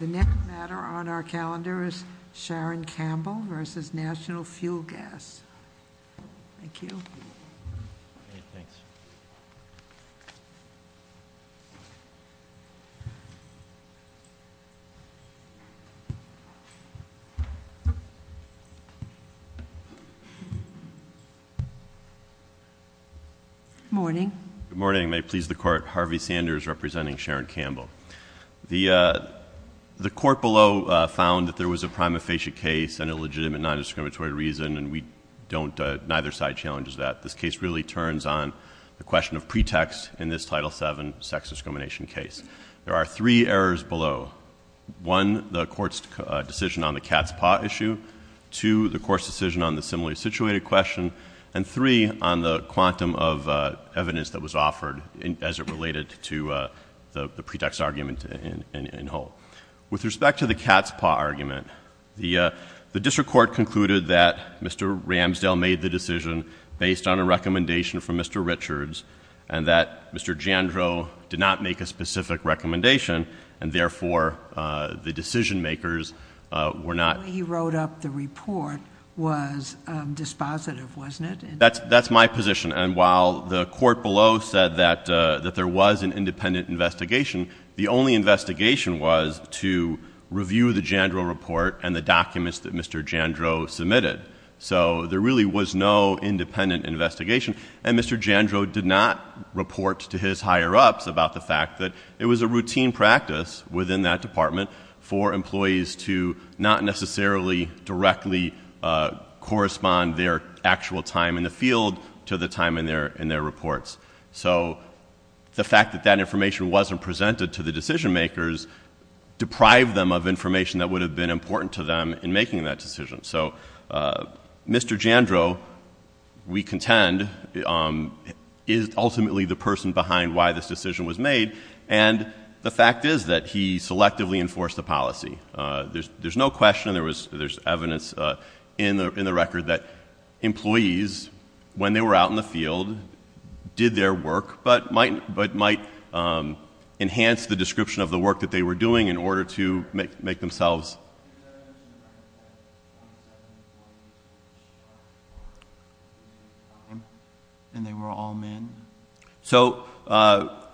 The next matter on our calendar is Sharon Campbell v. National Fuel Gas. Thank you. Good morning. Good morning. May it please the Court, Harvey Sanders representing Sharon Campbell. The Court below found that there was a prima facie case and a legitimate non-discriminatory reason, and neither side challenges that. This case really turns on the question of pretext in this Title VII sex discrimination case. There are three errors below. One, the Court's decision on the cat's paw issue. Two, the Court's decision on the similarly situated question. And three, on the quantum of evidence that was offered as it related to the pretext argument in whole. With respect to the cat's paw argument, the District Court concluded that Mr. Ramsdale made the decision based on a recommendation from Mr. Richards and that Mr. Jandro did not make a specific recommendation and therefore the decision makers were not... That's my position. And while the Court below said that there was an independent investigation, the only investigation was to review the Jandro report and the documents that Mr. Jandro submitted. So there really was no independent investigation. And Mr. Jandro did not report to his higher-ups about the fact that it was a routine practice within that department for employees to not necessarily directly correspond their actual time in the field to the time in their reports. So the fact that that information wasn't presented to the decision makers deprived them of information that would have been important to them in making that decision. So Mr. Jandro, we contend, is ultimately the person behind why this decision was made. And the fact is that he selectively enforced the policy. There's no question. There's evidence in the record that employees, when they were out in the field, did their work but might enhance the description of the work that they were doing in order to make themselves... And they were all men? So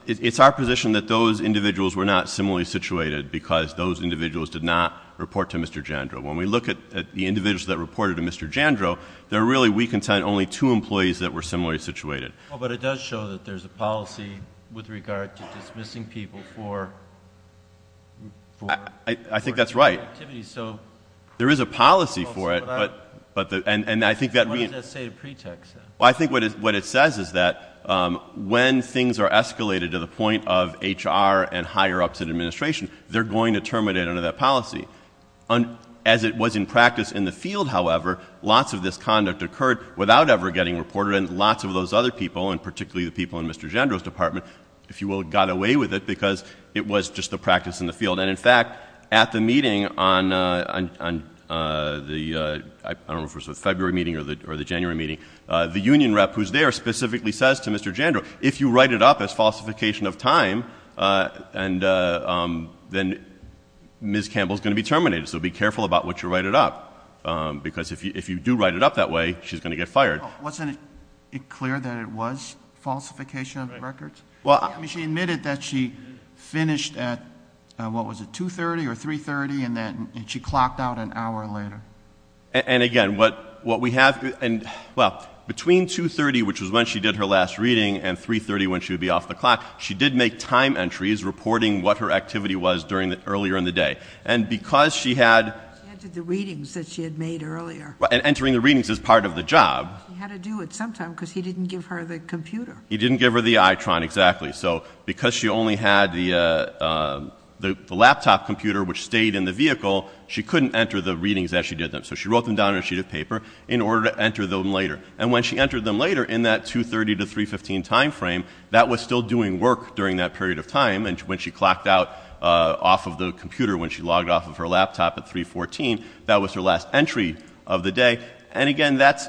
it's our position that those individuals were not similarly situated because those individuals did not report to Mr. Jandro. When we look at the individuals that reported to Mr. Jandro, there really, we contend, only two employees that were similarly situated. But it does show that there's a policy with regard to dismissing people for... I think that's right. So... There is a policy for it, but... What does that say to pretext? Well, I think what it says is that when things are escalated to the point of HR and higher ups in administration, they're going to terminate under that policy. As it was in practice in the field, however, lots of this conduct occurred without ever getting reported, and lots of those other people, and particularly the people in Mr. Jandro's department, if you will, got away with it because it was just a practice in the field. And, in fact, at the meeting on the February meeting or the January meeting, the union rep who's there specifically says to Mr. Jandro, if you write it up as falsification of time, then Ms. Campbell's going to be terminated. So be careful about what you write it up because if you do write it up that way, she's going to get fired. Wasn't it clear that it was falsification of records? She admitted that she finished at, what was it, 2.30 or 3.30, and she clocked out an hour later. And, again, what we have... Well, between 2.30, which was when she did her last reading, and 3.30 when she would be off the clock, she did make time entries reporting what her activity was earlier in the day. And because she had... She entered the readings that she had made earlier. And entering the readings is part of the job. She had to do it sometime because he didn't give her the computer. He didn't give her the ITRON, exactly. So because she only had the laptop computer, which stayed in the vehicle, she couldn't enter the readings as she did them. So she wrote them down on a sheet of paper in order to enter them later. And when she entered them later, in that 2.30 to 3.15 time frame, that was still doing work during that period of time. And when she clocked out off of the computer, when she logged off of her laptop at 3.14, that was her last entry of the day. And again, that's...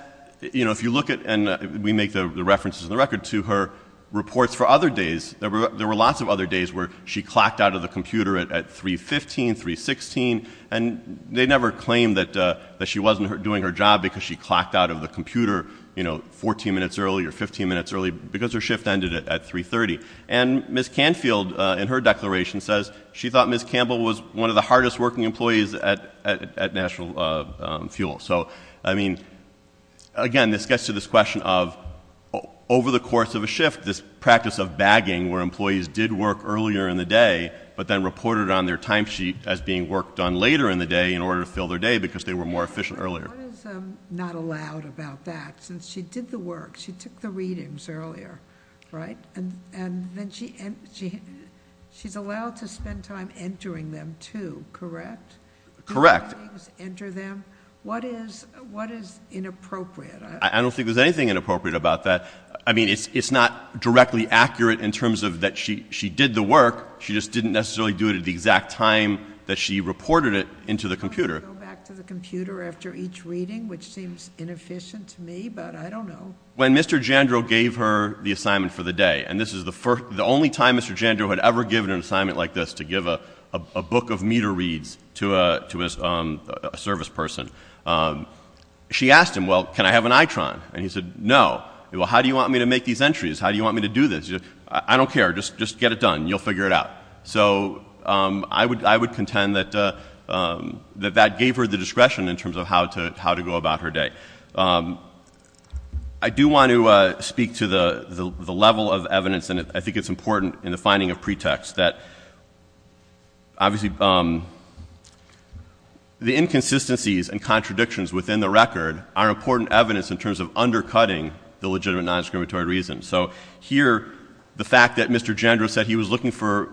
You know, if you look at... And we make the references in the record to her reports for other days. There were lots of other days where she clocked out of the computer at 3.15, 3.16. And they never claimed that she wasn't doing her job because she clocked out of the computer, you know, 14 minutes early or 15 minutes early, because her shift ended at 3.30. And Ms. Canfield, in her declaration, says she thought Ms. Campbell was one of the hardest working employees at National Fuel. So, I mean, again, this gets to this question of, over the course of a shift, this practice of bagging where employees did work earlier in the day, but then reported on their timesheet as being work done later in the day in order to fill their day because they were more efficient earlier. What is not allowed about that? Since she did the work, she took the readings earlier, right? And then she's allowed to spend time entering them, too, correct? Correct. What is inappropriate? I don't think there's anything inappropriate about that. I mean, it's not directly accurate in terms of that she did the work. She just didn't necessarily do it at the exact time that she reported it into the computer. I want to go back to the computer after each reading, which seems inefficient to me, but I don't know. When Mr. Jandro gave her the assignment for the day, and this is the only time Mr. Jandro had ever given an assignment like this to give a book of meter reads to a service person, she asked him, well, can I have an ITRON? And he said, no. Well, how do you want me to make these entries? How do you want me to do this? I don't care. Just get it done. You'll figure it out. So I would contend that that gave her the discretion in terms of how to go about her day. I do want to speak to the level of evidence, and I think it's important in the finding of pretext, that obviously the inconsistencies and contradictions within the record are important evidence in terms of undercutting the legitimate non-exclamatory reasons. So here, the fact that Mr. Jandro said he was looking for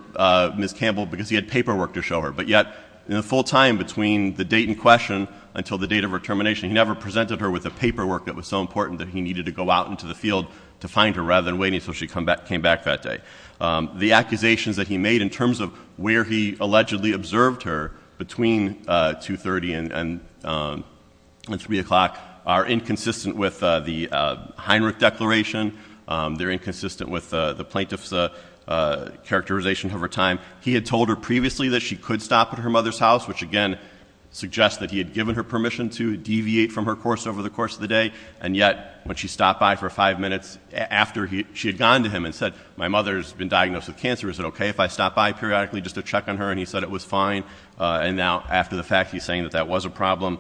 Ms. Campbell because he had paperwork to show her, but yet in the full time between the date in question until the date of her termination, he never presented her with the paperwork that was so important that he needed to go out into the field to find her rather than waiting until she came back that day. The accusations that he made in terms of where he allegedly observed her between 2.30 and 3 o'clock are inconsistent with the Heinrich Declaration. They're inconsistent with the plaintiff's characterization of her time. He had told her previously that she could stop at her mother's house, which again suggests that he had given her permission to deviate from her course over the course of the day, and yet when she stopped by for five minutes after she had gone to him and said, my mother's been diagnosed with cancer. Is it okay if I stop by periodically just to check on her? And he said it was fine. And now after the fact, he's saying that that was a problem.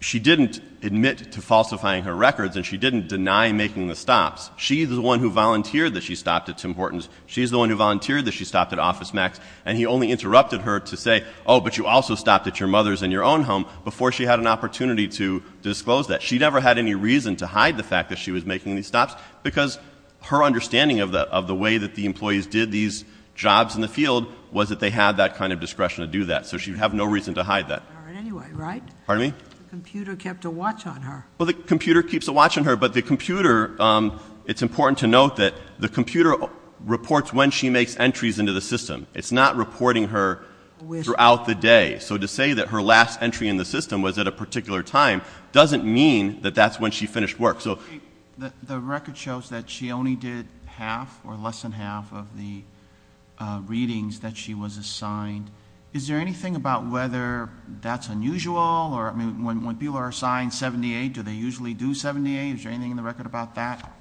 She didn't admit to falsifying her records, and she didn't deny making the stops. She's the one who volunteered that she stopped at Tim Horton's. She's the one who volunteered that she stopped at Office Max, and he only interrupted her to say, oh, but you also stopped at your mother's and your own home before she had an opportunity to disclose that. She never had any reason to hide the fact that she was making these stops because her understanding of the way that the employees did these jobs in the field was that they had that kind of discretion to do that, so she would have no reason to hide that. All right, anyway, right? Pardon me? The computer kept a watch on her. Well, the computer keeps a watch on her, but the computer, it's important to note that the computer reports when she makes entries into the system. It's not reporting her throughout the day. So to say that her last entry in the system was at a particular time doesn't mean that that's when she finished work. The record shows that she only did half or less than half of the readings that she was assigned. Is there anything about whether that's unusual? I mean, when people are assigned 78, do they usually do 78? Is there anything in the record about that?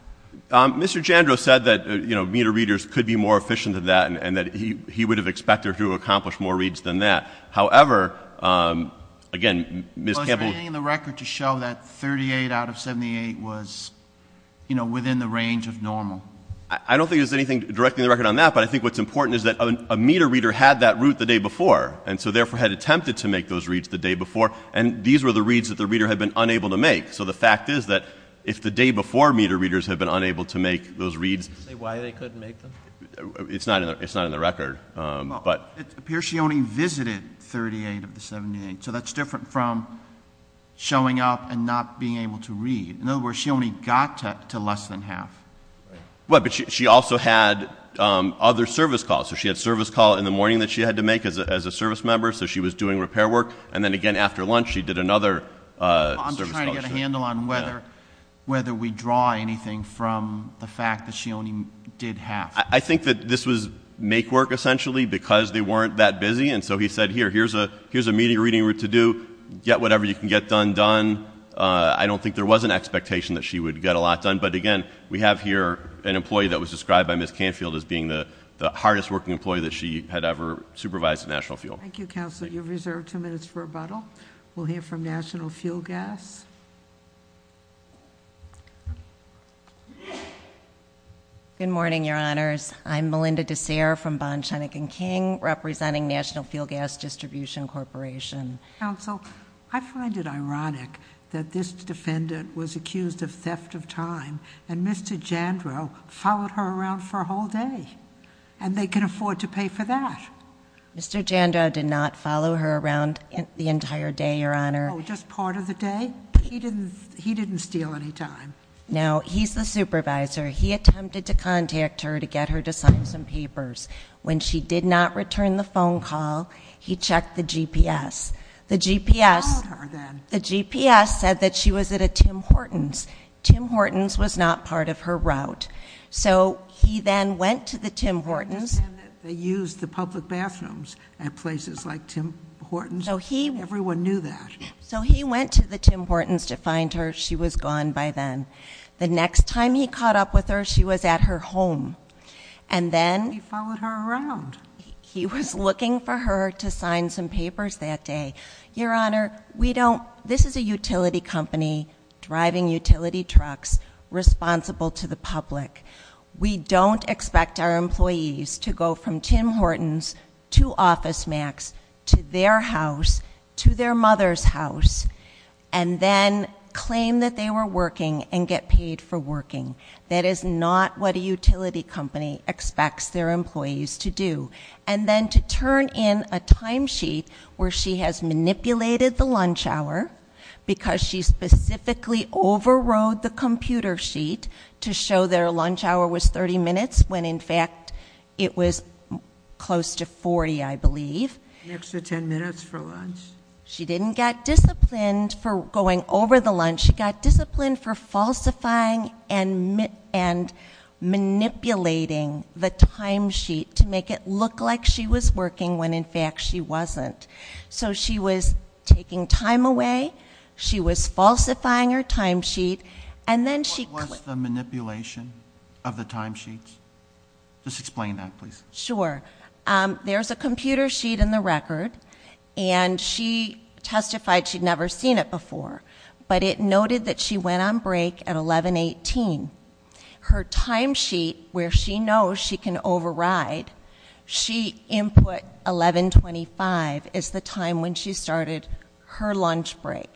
Mr. Jandro said that, you know, meter readers could be more efficient than that and that he would have expected her to accomplish more reads than that. However, again, Ms. Campbell — Well, is there anything in the record to show that 38 out of 78 was, you know, within the range of normal? I don't think there's anything directly in the record on that, but I think what's important is that a meter reader had that route the day before and so therefore had attempted to make those reads the day before, and these were the reads that the reader had been unable to make. So the fact is that if the day before meter readers had been unable to make those reads— Why they couldn't make them? It's not in the record. Well, it appears she only visited 38 of the 78, so that's different from showing up and not being able to read. In other words, she only got to less than half. Well, but she also had other service calls. So she had a service call in the morning that she had to make as a service member, I'm just trying to get a handle on whether we draw anything from the fact that she only did half. I think that this was make work, essentially, because they weren't that busy, and so he said, here, here's a meter reading route to do. Get whatever you can get done done. I don't think there was an expectation that she would get a lot done, but again, we have here an employee that was described by Ms. Canfield as being the hardest working employee that she had ever supervised at National Fuel. Thank you, Counselor. You're reserved two minutes for rebuttal. We'll hear from National Fuel Gas. Good morning, Your Honors. I'm Melinda DeSere from Bond, Shenick & King, representing National Fuel Gas Distribution Corporation. Counsel, I find it ironic that this defendant was accused of theft of time, and Mr. Jandro followed her around for a whole day, and they can afford to pay for that. Mr. Jandro did not follow her around the entire day, Your Honor. Oh, just part of the day? He didn't steal any time. No, he's the supervisor. He attempted to contact her to get her to sign some papers. When she did not return the phone call, he checked the GPS. The GPS said that she was at a Tim Hortons. Tim Hortons was not part of her route. So he then went to the Tim Hortons. I understand that they used the public bathrooms at places like Tim Hortons. Everyone knew that. So he went to the Tim Hortons to find her. She was gone by then. The next time he caught up with her, she was at her home. And then he followed her around. He was looking for her to sign some papers that day. We don't expect our employees to go from Tim Hortons to OfficeMax, to their house, to their mother's house, and then claim that they were working and get paid for working. That is not what a utility company expects their employees to do. And then to turn in a timesheet where she has manipulated the lunch hour because she specifically overrode the computer sheet to show that her lunch hour was 30 minutes when, in fact, it was close to 40, I believe. An extra 10 minutes for lunch. She didn't get disciplined for going over the lunch. She got disciplined for falsifying and manipulating the timesheet to make it look like she was working when, in fact, she wasn't. So she was taking time away. She was falsifying her timesheet. What was the manipulation of the timesheets? Just explain that, please. Sure. There's a computer sheet in the record, and she testified she'd never seen it before. But it noted that she went on break at 11.18. Her timesheet, where she knows she can override, she input 11.25 is the time when she started her lunch break.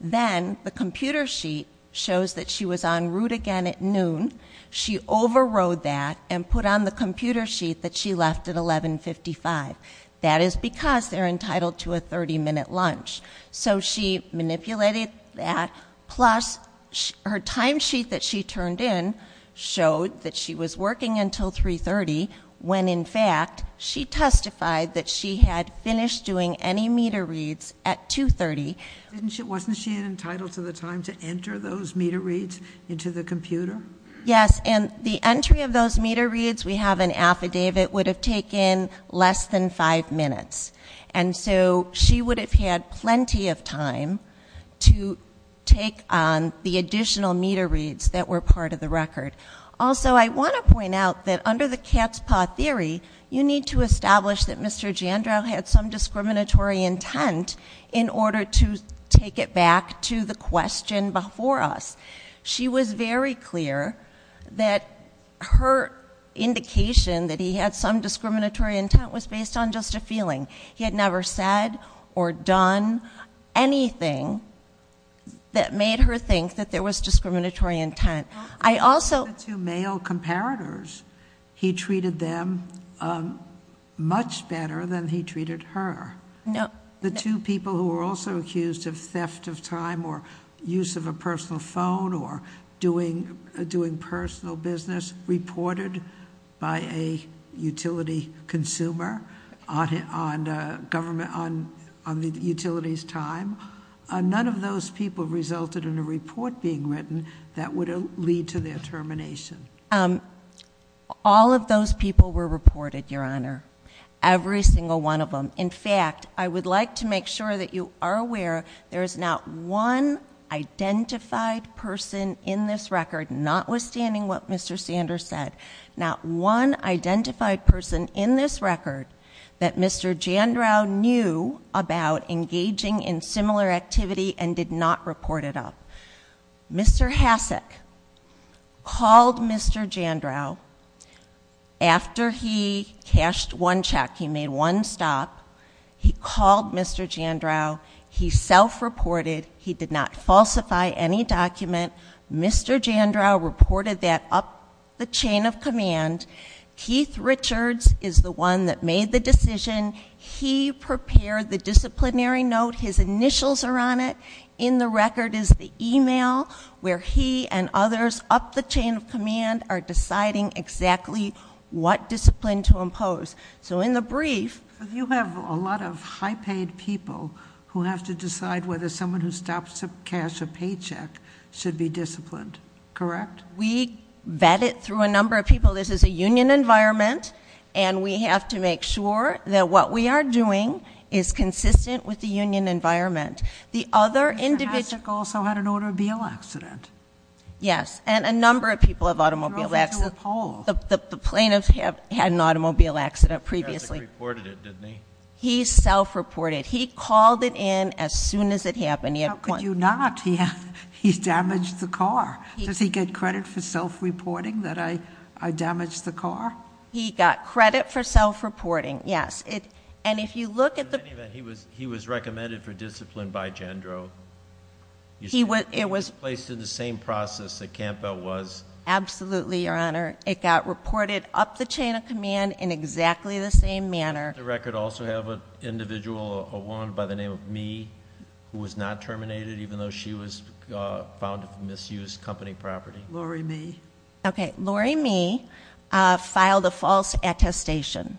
Then the computer sheet shows that she was en route again at noon. She overrode that and put on the computer sheet that she left at 11.55. That is because they're entitled to a 30-minute lunch. So she manipulated that. Plus, her timesheet that she turned in showed that she was working until 3.30, when, in fact, she testified that she had finished doing any meter reads at 2.30. Wasn't she entitled to the time to enter those meter reads into the computer? Yes, and the entry of those meter reads we have in affidavit would have taken less than five minutes. So she would have had plenty of time to take on the additional meter reads that were part of the record. Also, I want to point out that under the cat's paw theory, you need to establish that Mr. Jandreau had some discriminatory intent in order to take it back to the question before us. She was very clear that her indication that he had some discriminatory intent was based on just a feeling. He had never said or done anything that made her think that there was discriminatory intent. I also- The two male comparators, he treated them much better than he treated her. No. The two people who were also accused of theft of time, or use of a personal phone, or doing personal business reported by a utility consumer on the utility's time. None of those people resulted in a report being written that would lead to their termination. All of those people were reported, Your Honor. Every single one of them. In fact, I would like to make sure that you are aware there is not one identified person in this record, notwithstanding what Mr. Sanders said, not one identified person in this record that Mr. Jandreau knew about engaging in similar activity and did not report it up. Mr. Hasek called Mr. Jandreau after he cashed one check. He made one stop. He called Mr. Jandreau. He self-reported. He did not falsify any document. Mr. Jandreau reported that up the chain of command. Keith Richards is the one that made the decision. He prepared the disciplinary note. His initials are on it. In the record is the e-mail where he and others up the chain of command are deciding exactly what discipline to impose. So in the brief- You have a lot of high-paid people who have to decide whether someone who stops a cash or paycheck should be disciplined. Correct? We vet it through a number of people. This is a union environment, and we have to make sure that what we are doing is consistent with the union environment. Mr. Hasek also had an automobile accident. Yes, and a number of people have automobile accidents. The plaintiffs had an automobile accident previously. Mr. Hasek reported it, didn't he? He self-reported. He called it in as soon as it happened. How could you not? He damaged the car. Does he get credit for self-reporting that I damaged the car? He got credit for self-reporting, yes. In any event, he was recommended for discipline by Jandro. He was- He was placed in the same process that Campbell was. Absolutely, Your Honor. It got reported up the chain of command in exactly the same manner. Does the record also have an individual, a woman by the name of Mee, who was not terminated, even though she was found of misused company property? Lori Mee. Okay, Lori Mee filed a false attestation.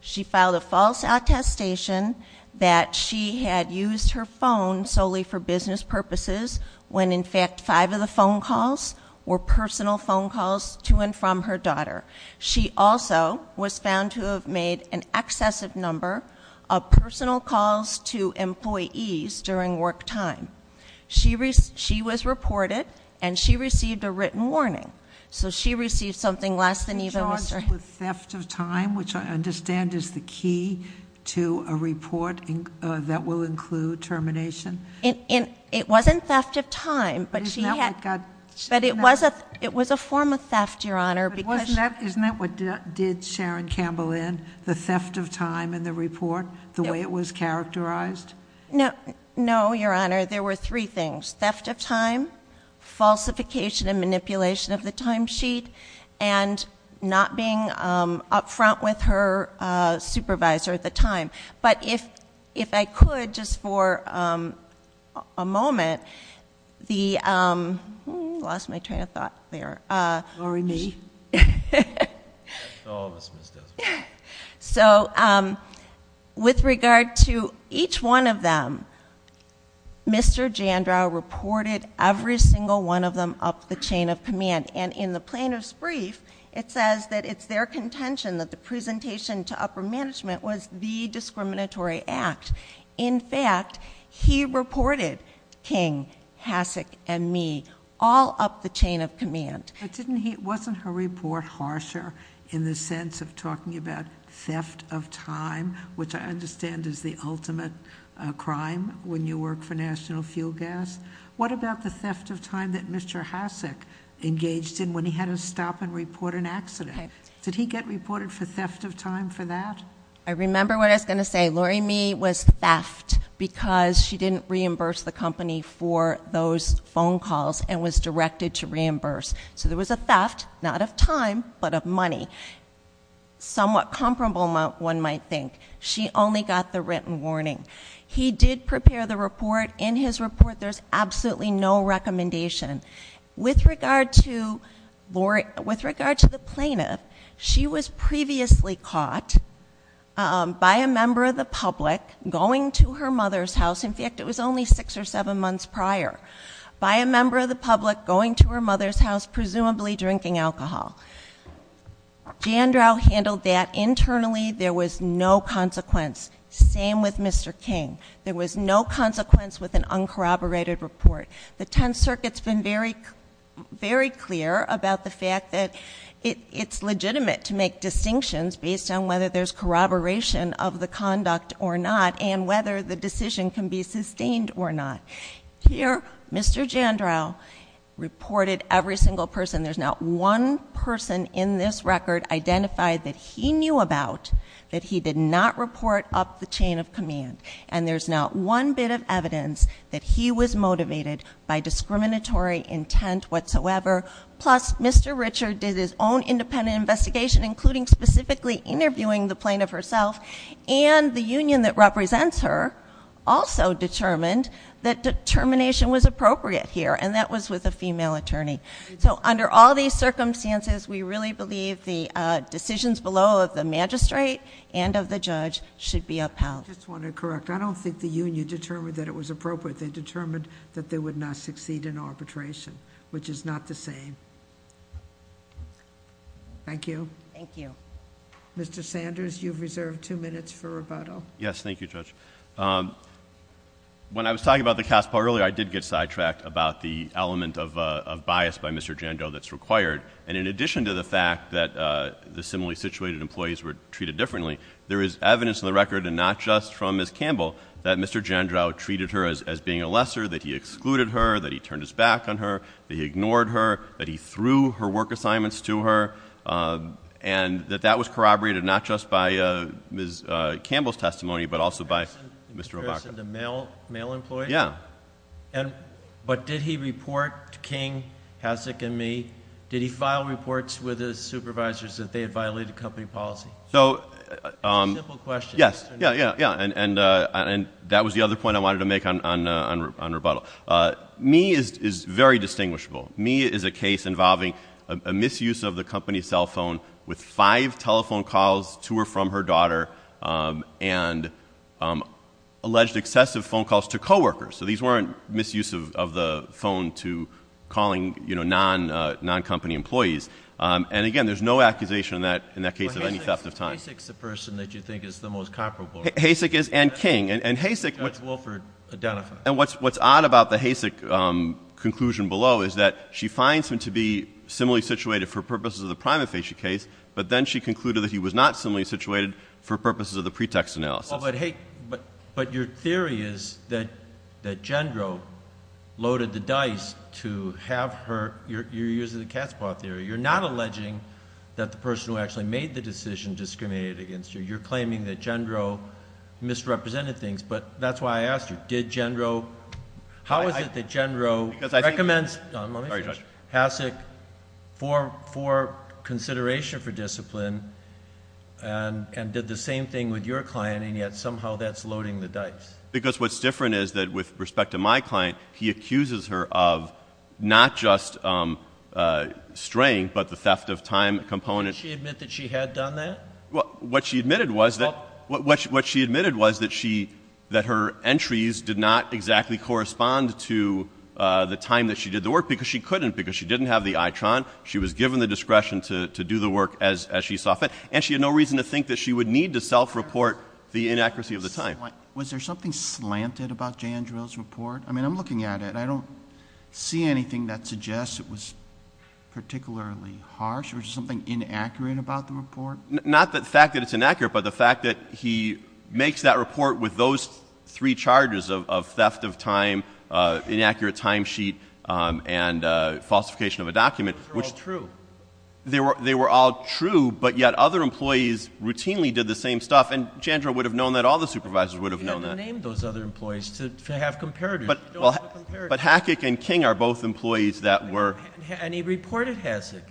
She filed a false attestation that she had used her phone solely for business purposes when, in fact, five of the phone calls were personal phone calls to and from her daughter. She also was found to have made an excessive number of personal calls to employees during work time. She was reported, and she received a written warning. So she received something less than even- A theft of time, which I understand is the key to a report that will include termination? It wasn't theft of time, but she had- But isn't that what got- But it was a form of theft, Your Honor, because- But isn't that what did Sharon Campbell in? The theft of time in the report, the way it was characterized? No, Your Honor, there were three things. There was theft of time, falsification and manipulation of the time sheet, and not being up front with her supervisor at the time. But if I could, just for a moment, the- I lost my train of thought there. Lori Mee. All of us missed it. So with regard to each one of them, Mr. Jandrau reported every single one of them up the chain of command. And in the plaintiff's brief, it says that it's their contention that the presentation to upper management was the discriminatory act. In fact, he reported King, Hasek, and me all up the chain of command. Wasn't her report harsher in the sense of talking about theft of time, which I understand is the ultimate crime when you work for National Fuel Gas? What about the theft of time that Mr. Hasek engaged in when he had to stop and report an accident? Did he get reported for theft of time for that? I remember what I was going to say. Lori Mee was theft because she didn't reimburse the company for those phone calls and was directed to reimburse. So there was a theft, not of time, but of money. Somewhat comparable, one might think. She only got the written warning. He did prepare the report. In his report, there's absolutely no recommendation. With regard to Lori, with regard to the plaintiff, she was previously caught by a member of the public going to her mother's house. In fact, it was only six or seven months prior. By a member of the public going to her mother's house, presumably drinking alcohol. Jan Drow handled that internally. There was no consequence. Same with Mr. King. There was no consequence with an uncorroborated report. The Tenth Circuit's been very clear about the fact that it's legitimate to make distinctions based on whether there's corroboration of the conduct or not. And whether the decision can be sustained or not. Here, Mr. Jan Drow reported every single person. There's not one person in this record identified that he knew about that he did not report up the chain of command. And there's not one bit of evidence that he was motivated by discriminatory intent whatsoever. Plus, Mr. Richard did his own independent investigation, including specifically interviewing the plaintiff herself. And the union that represents her also determined that determination was appropriate here. And that was with a female attorney. So under all these circumstances, we really believe the decisions below of the magistrate and of the judge should be upheld. I just want to correct. I don't think the union determined that it was appropriate. They determined that they would not succeed in arbitration, which is not the same. Thank you. Thank you. Mr. Sanders, you've reserved two minutes for rebuttal. Yes, thank you, Judge. When I was talking about the Caspar earlier, I did get sidetracked about the element of bias by Mr. Jan Drow that's required. And in addition to the fact that the similarly situated employees were treated differently, there is evidence on the record, and not just from Ms. Campbell, that Mr. Jan Drow treated her as being a lesser, that he excluded her, that he turned his back on her, that he ignored her, that he threw her work assignments to her. And that that was corroborated not just by Ms. Campbell's testimony, but also by Mr. Robaca. In comparison to male employees? Yeah. But did he report King, Hasek, and me? Did he file reports with his supervisors that they had violated company policy? It's a simple question. Yes. Yeah, yeah, yeah. And that was the other point I wanted to make on rebuttal. Me is very distinguishable. Me is a case involving a misuse of the company's cell phone with five telephone calls to or from her daughter, and alleged excessive phone calls to coworkers. So these weren't misuse of the phone to calling non-company employees. And, again, there's no accusation in that case of any theft of time. Well, Hasek's the person that you think is the most comparable. Hasek is, and King. And Hasek, what's odd about the Hasek conclusion below is that she finds him to be similarly situated for purposes of the prima facie case, but then she concluded that he was not similarly situated for purposes of the pretext analysis. But your theory is that Jan Drow loaded the dice to have her, you're using the cat's paw theory. You're not alleging that the person who actually made the decision discriminated against you. You're claiming that Jan Drow misrepresented things. But that's why I asked you, did Jan Drow, how is it that Jan Drow recommends Hasek for consideration for discipline and did the same thing with your client, and yet somehow that's loading the dice? Because what's different is that with respect to my client, he accuses her of not just straying, but the theft of time component. Did she admit that she had done that? What she admitted was that her entries did not exactly correspond to the time that she did the work because she couldn't. Because she didn't have the ITRON. She was given the discretion to do the work as she saw fit. And she had no reason to think that she would need to self-report the inaccuracy of the time. Was there something slanted about Jan Drow's report? I mean, I'm looking at it. I don't see anything that suggests it was particularly harsh. Was there something inaccurate about the report? Not the fact that it's inaccurate, but the fact that he makes that report with those three charges of theft of time, inaccurate time sheet, and falsification of a document. They were all true. They were all true, but yet other employees routinely did the same stuff. And Jan Drow would have known that. All the supervisors would have known that. You have to name those other employees to have comparators. But Hackick and King are both employees that were- And he reported Hasek.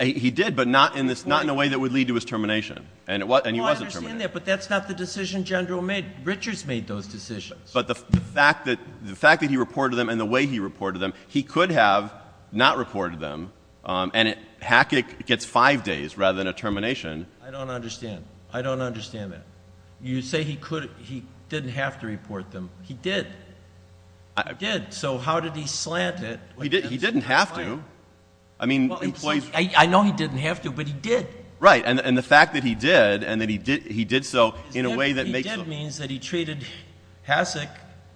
He did, but not in a way that would lead to his termination. And he wasn't terminated. No, I understand that, but that's not the decision Jan Drow made. Richards made those decisions. But the fact that he reported them and the way he reported them, he could have not reported them. And Hackick gets five days rather than a termination. I don't understand. I don't understand that. You say he didn't have to report them. He did. He did. So how did he slant it? He didn't have to. I mean, employees- I know he didn't have to, but he did. Right. And the fact that he did and that he did so in a way that makes- He did means that he treated Hasek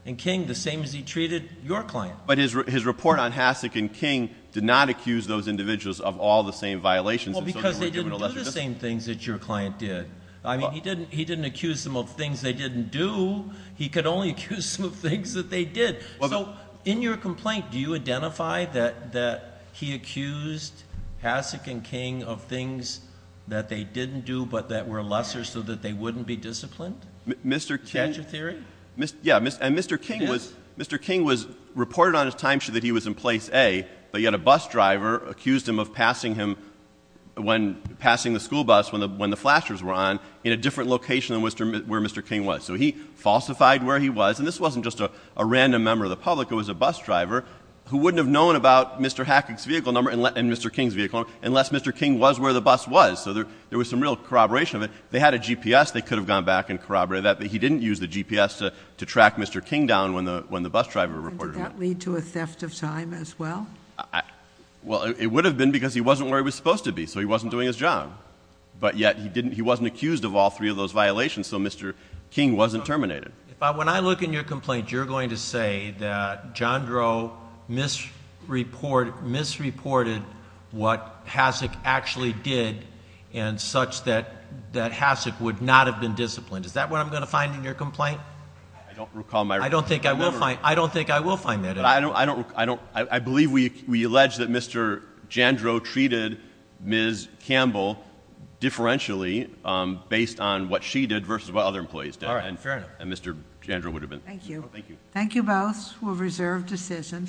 and King the same as he treated your client. But his report on Hasek and King did not accuse those individuals of all the same violations. Well, because they didn't do the same things that your client did. I mean, he didn't accuse them of things they didn't do. He could only accuse them of things that they did. So in your complaint, do you identify that he accused Hasek and King of things that they didn't do, but that were lesser so that they wouldn't be disciplined? Mr. King- Statue theory? Yeah. And Mr. King was- He did. But yet a bus driver accused him of passing him- Passing the school bus when the flashers were on in a different location than where Mr. King was. So he falsified where he was. And this wasn't just a random member of the public. It was a bus driver who wouldn't have known about Mr. Hasek's vehicle number and Mr. King's vehicle number unless Mr. King was where the bus was. So there was some real corroboration of it. They had a GPS. They could have gone back and corroborated that, And did that lead to a theft of time as well? Well, it would have been because he wasn't where he was supposed to be, so he wasn't doing his job. But yet he wasn't accused of all three of those violations, so Mr. King wasn't terminated. But when I look in your complaint, you're going to say that John Groh misreported what Hasek actually did and such that Hasek would not have been disciplined. Is that what I'm going to find in your complaint? I don't recall my- I don't think I will find that at all. I believe we allege that Mr. Jandro treated Ms. Campbell differentially based on what she did versus what other employees did. All right, fair enough. And Mr. Jandro would have been- Thank you. Thank you. Thank you both. We'll reserve decision.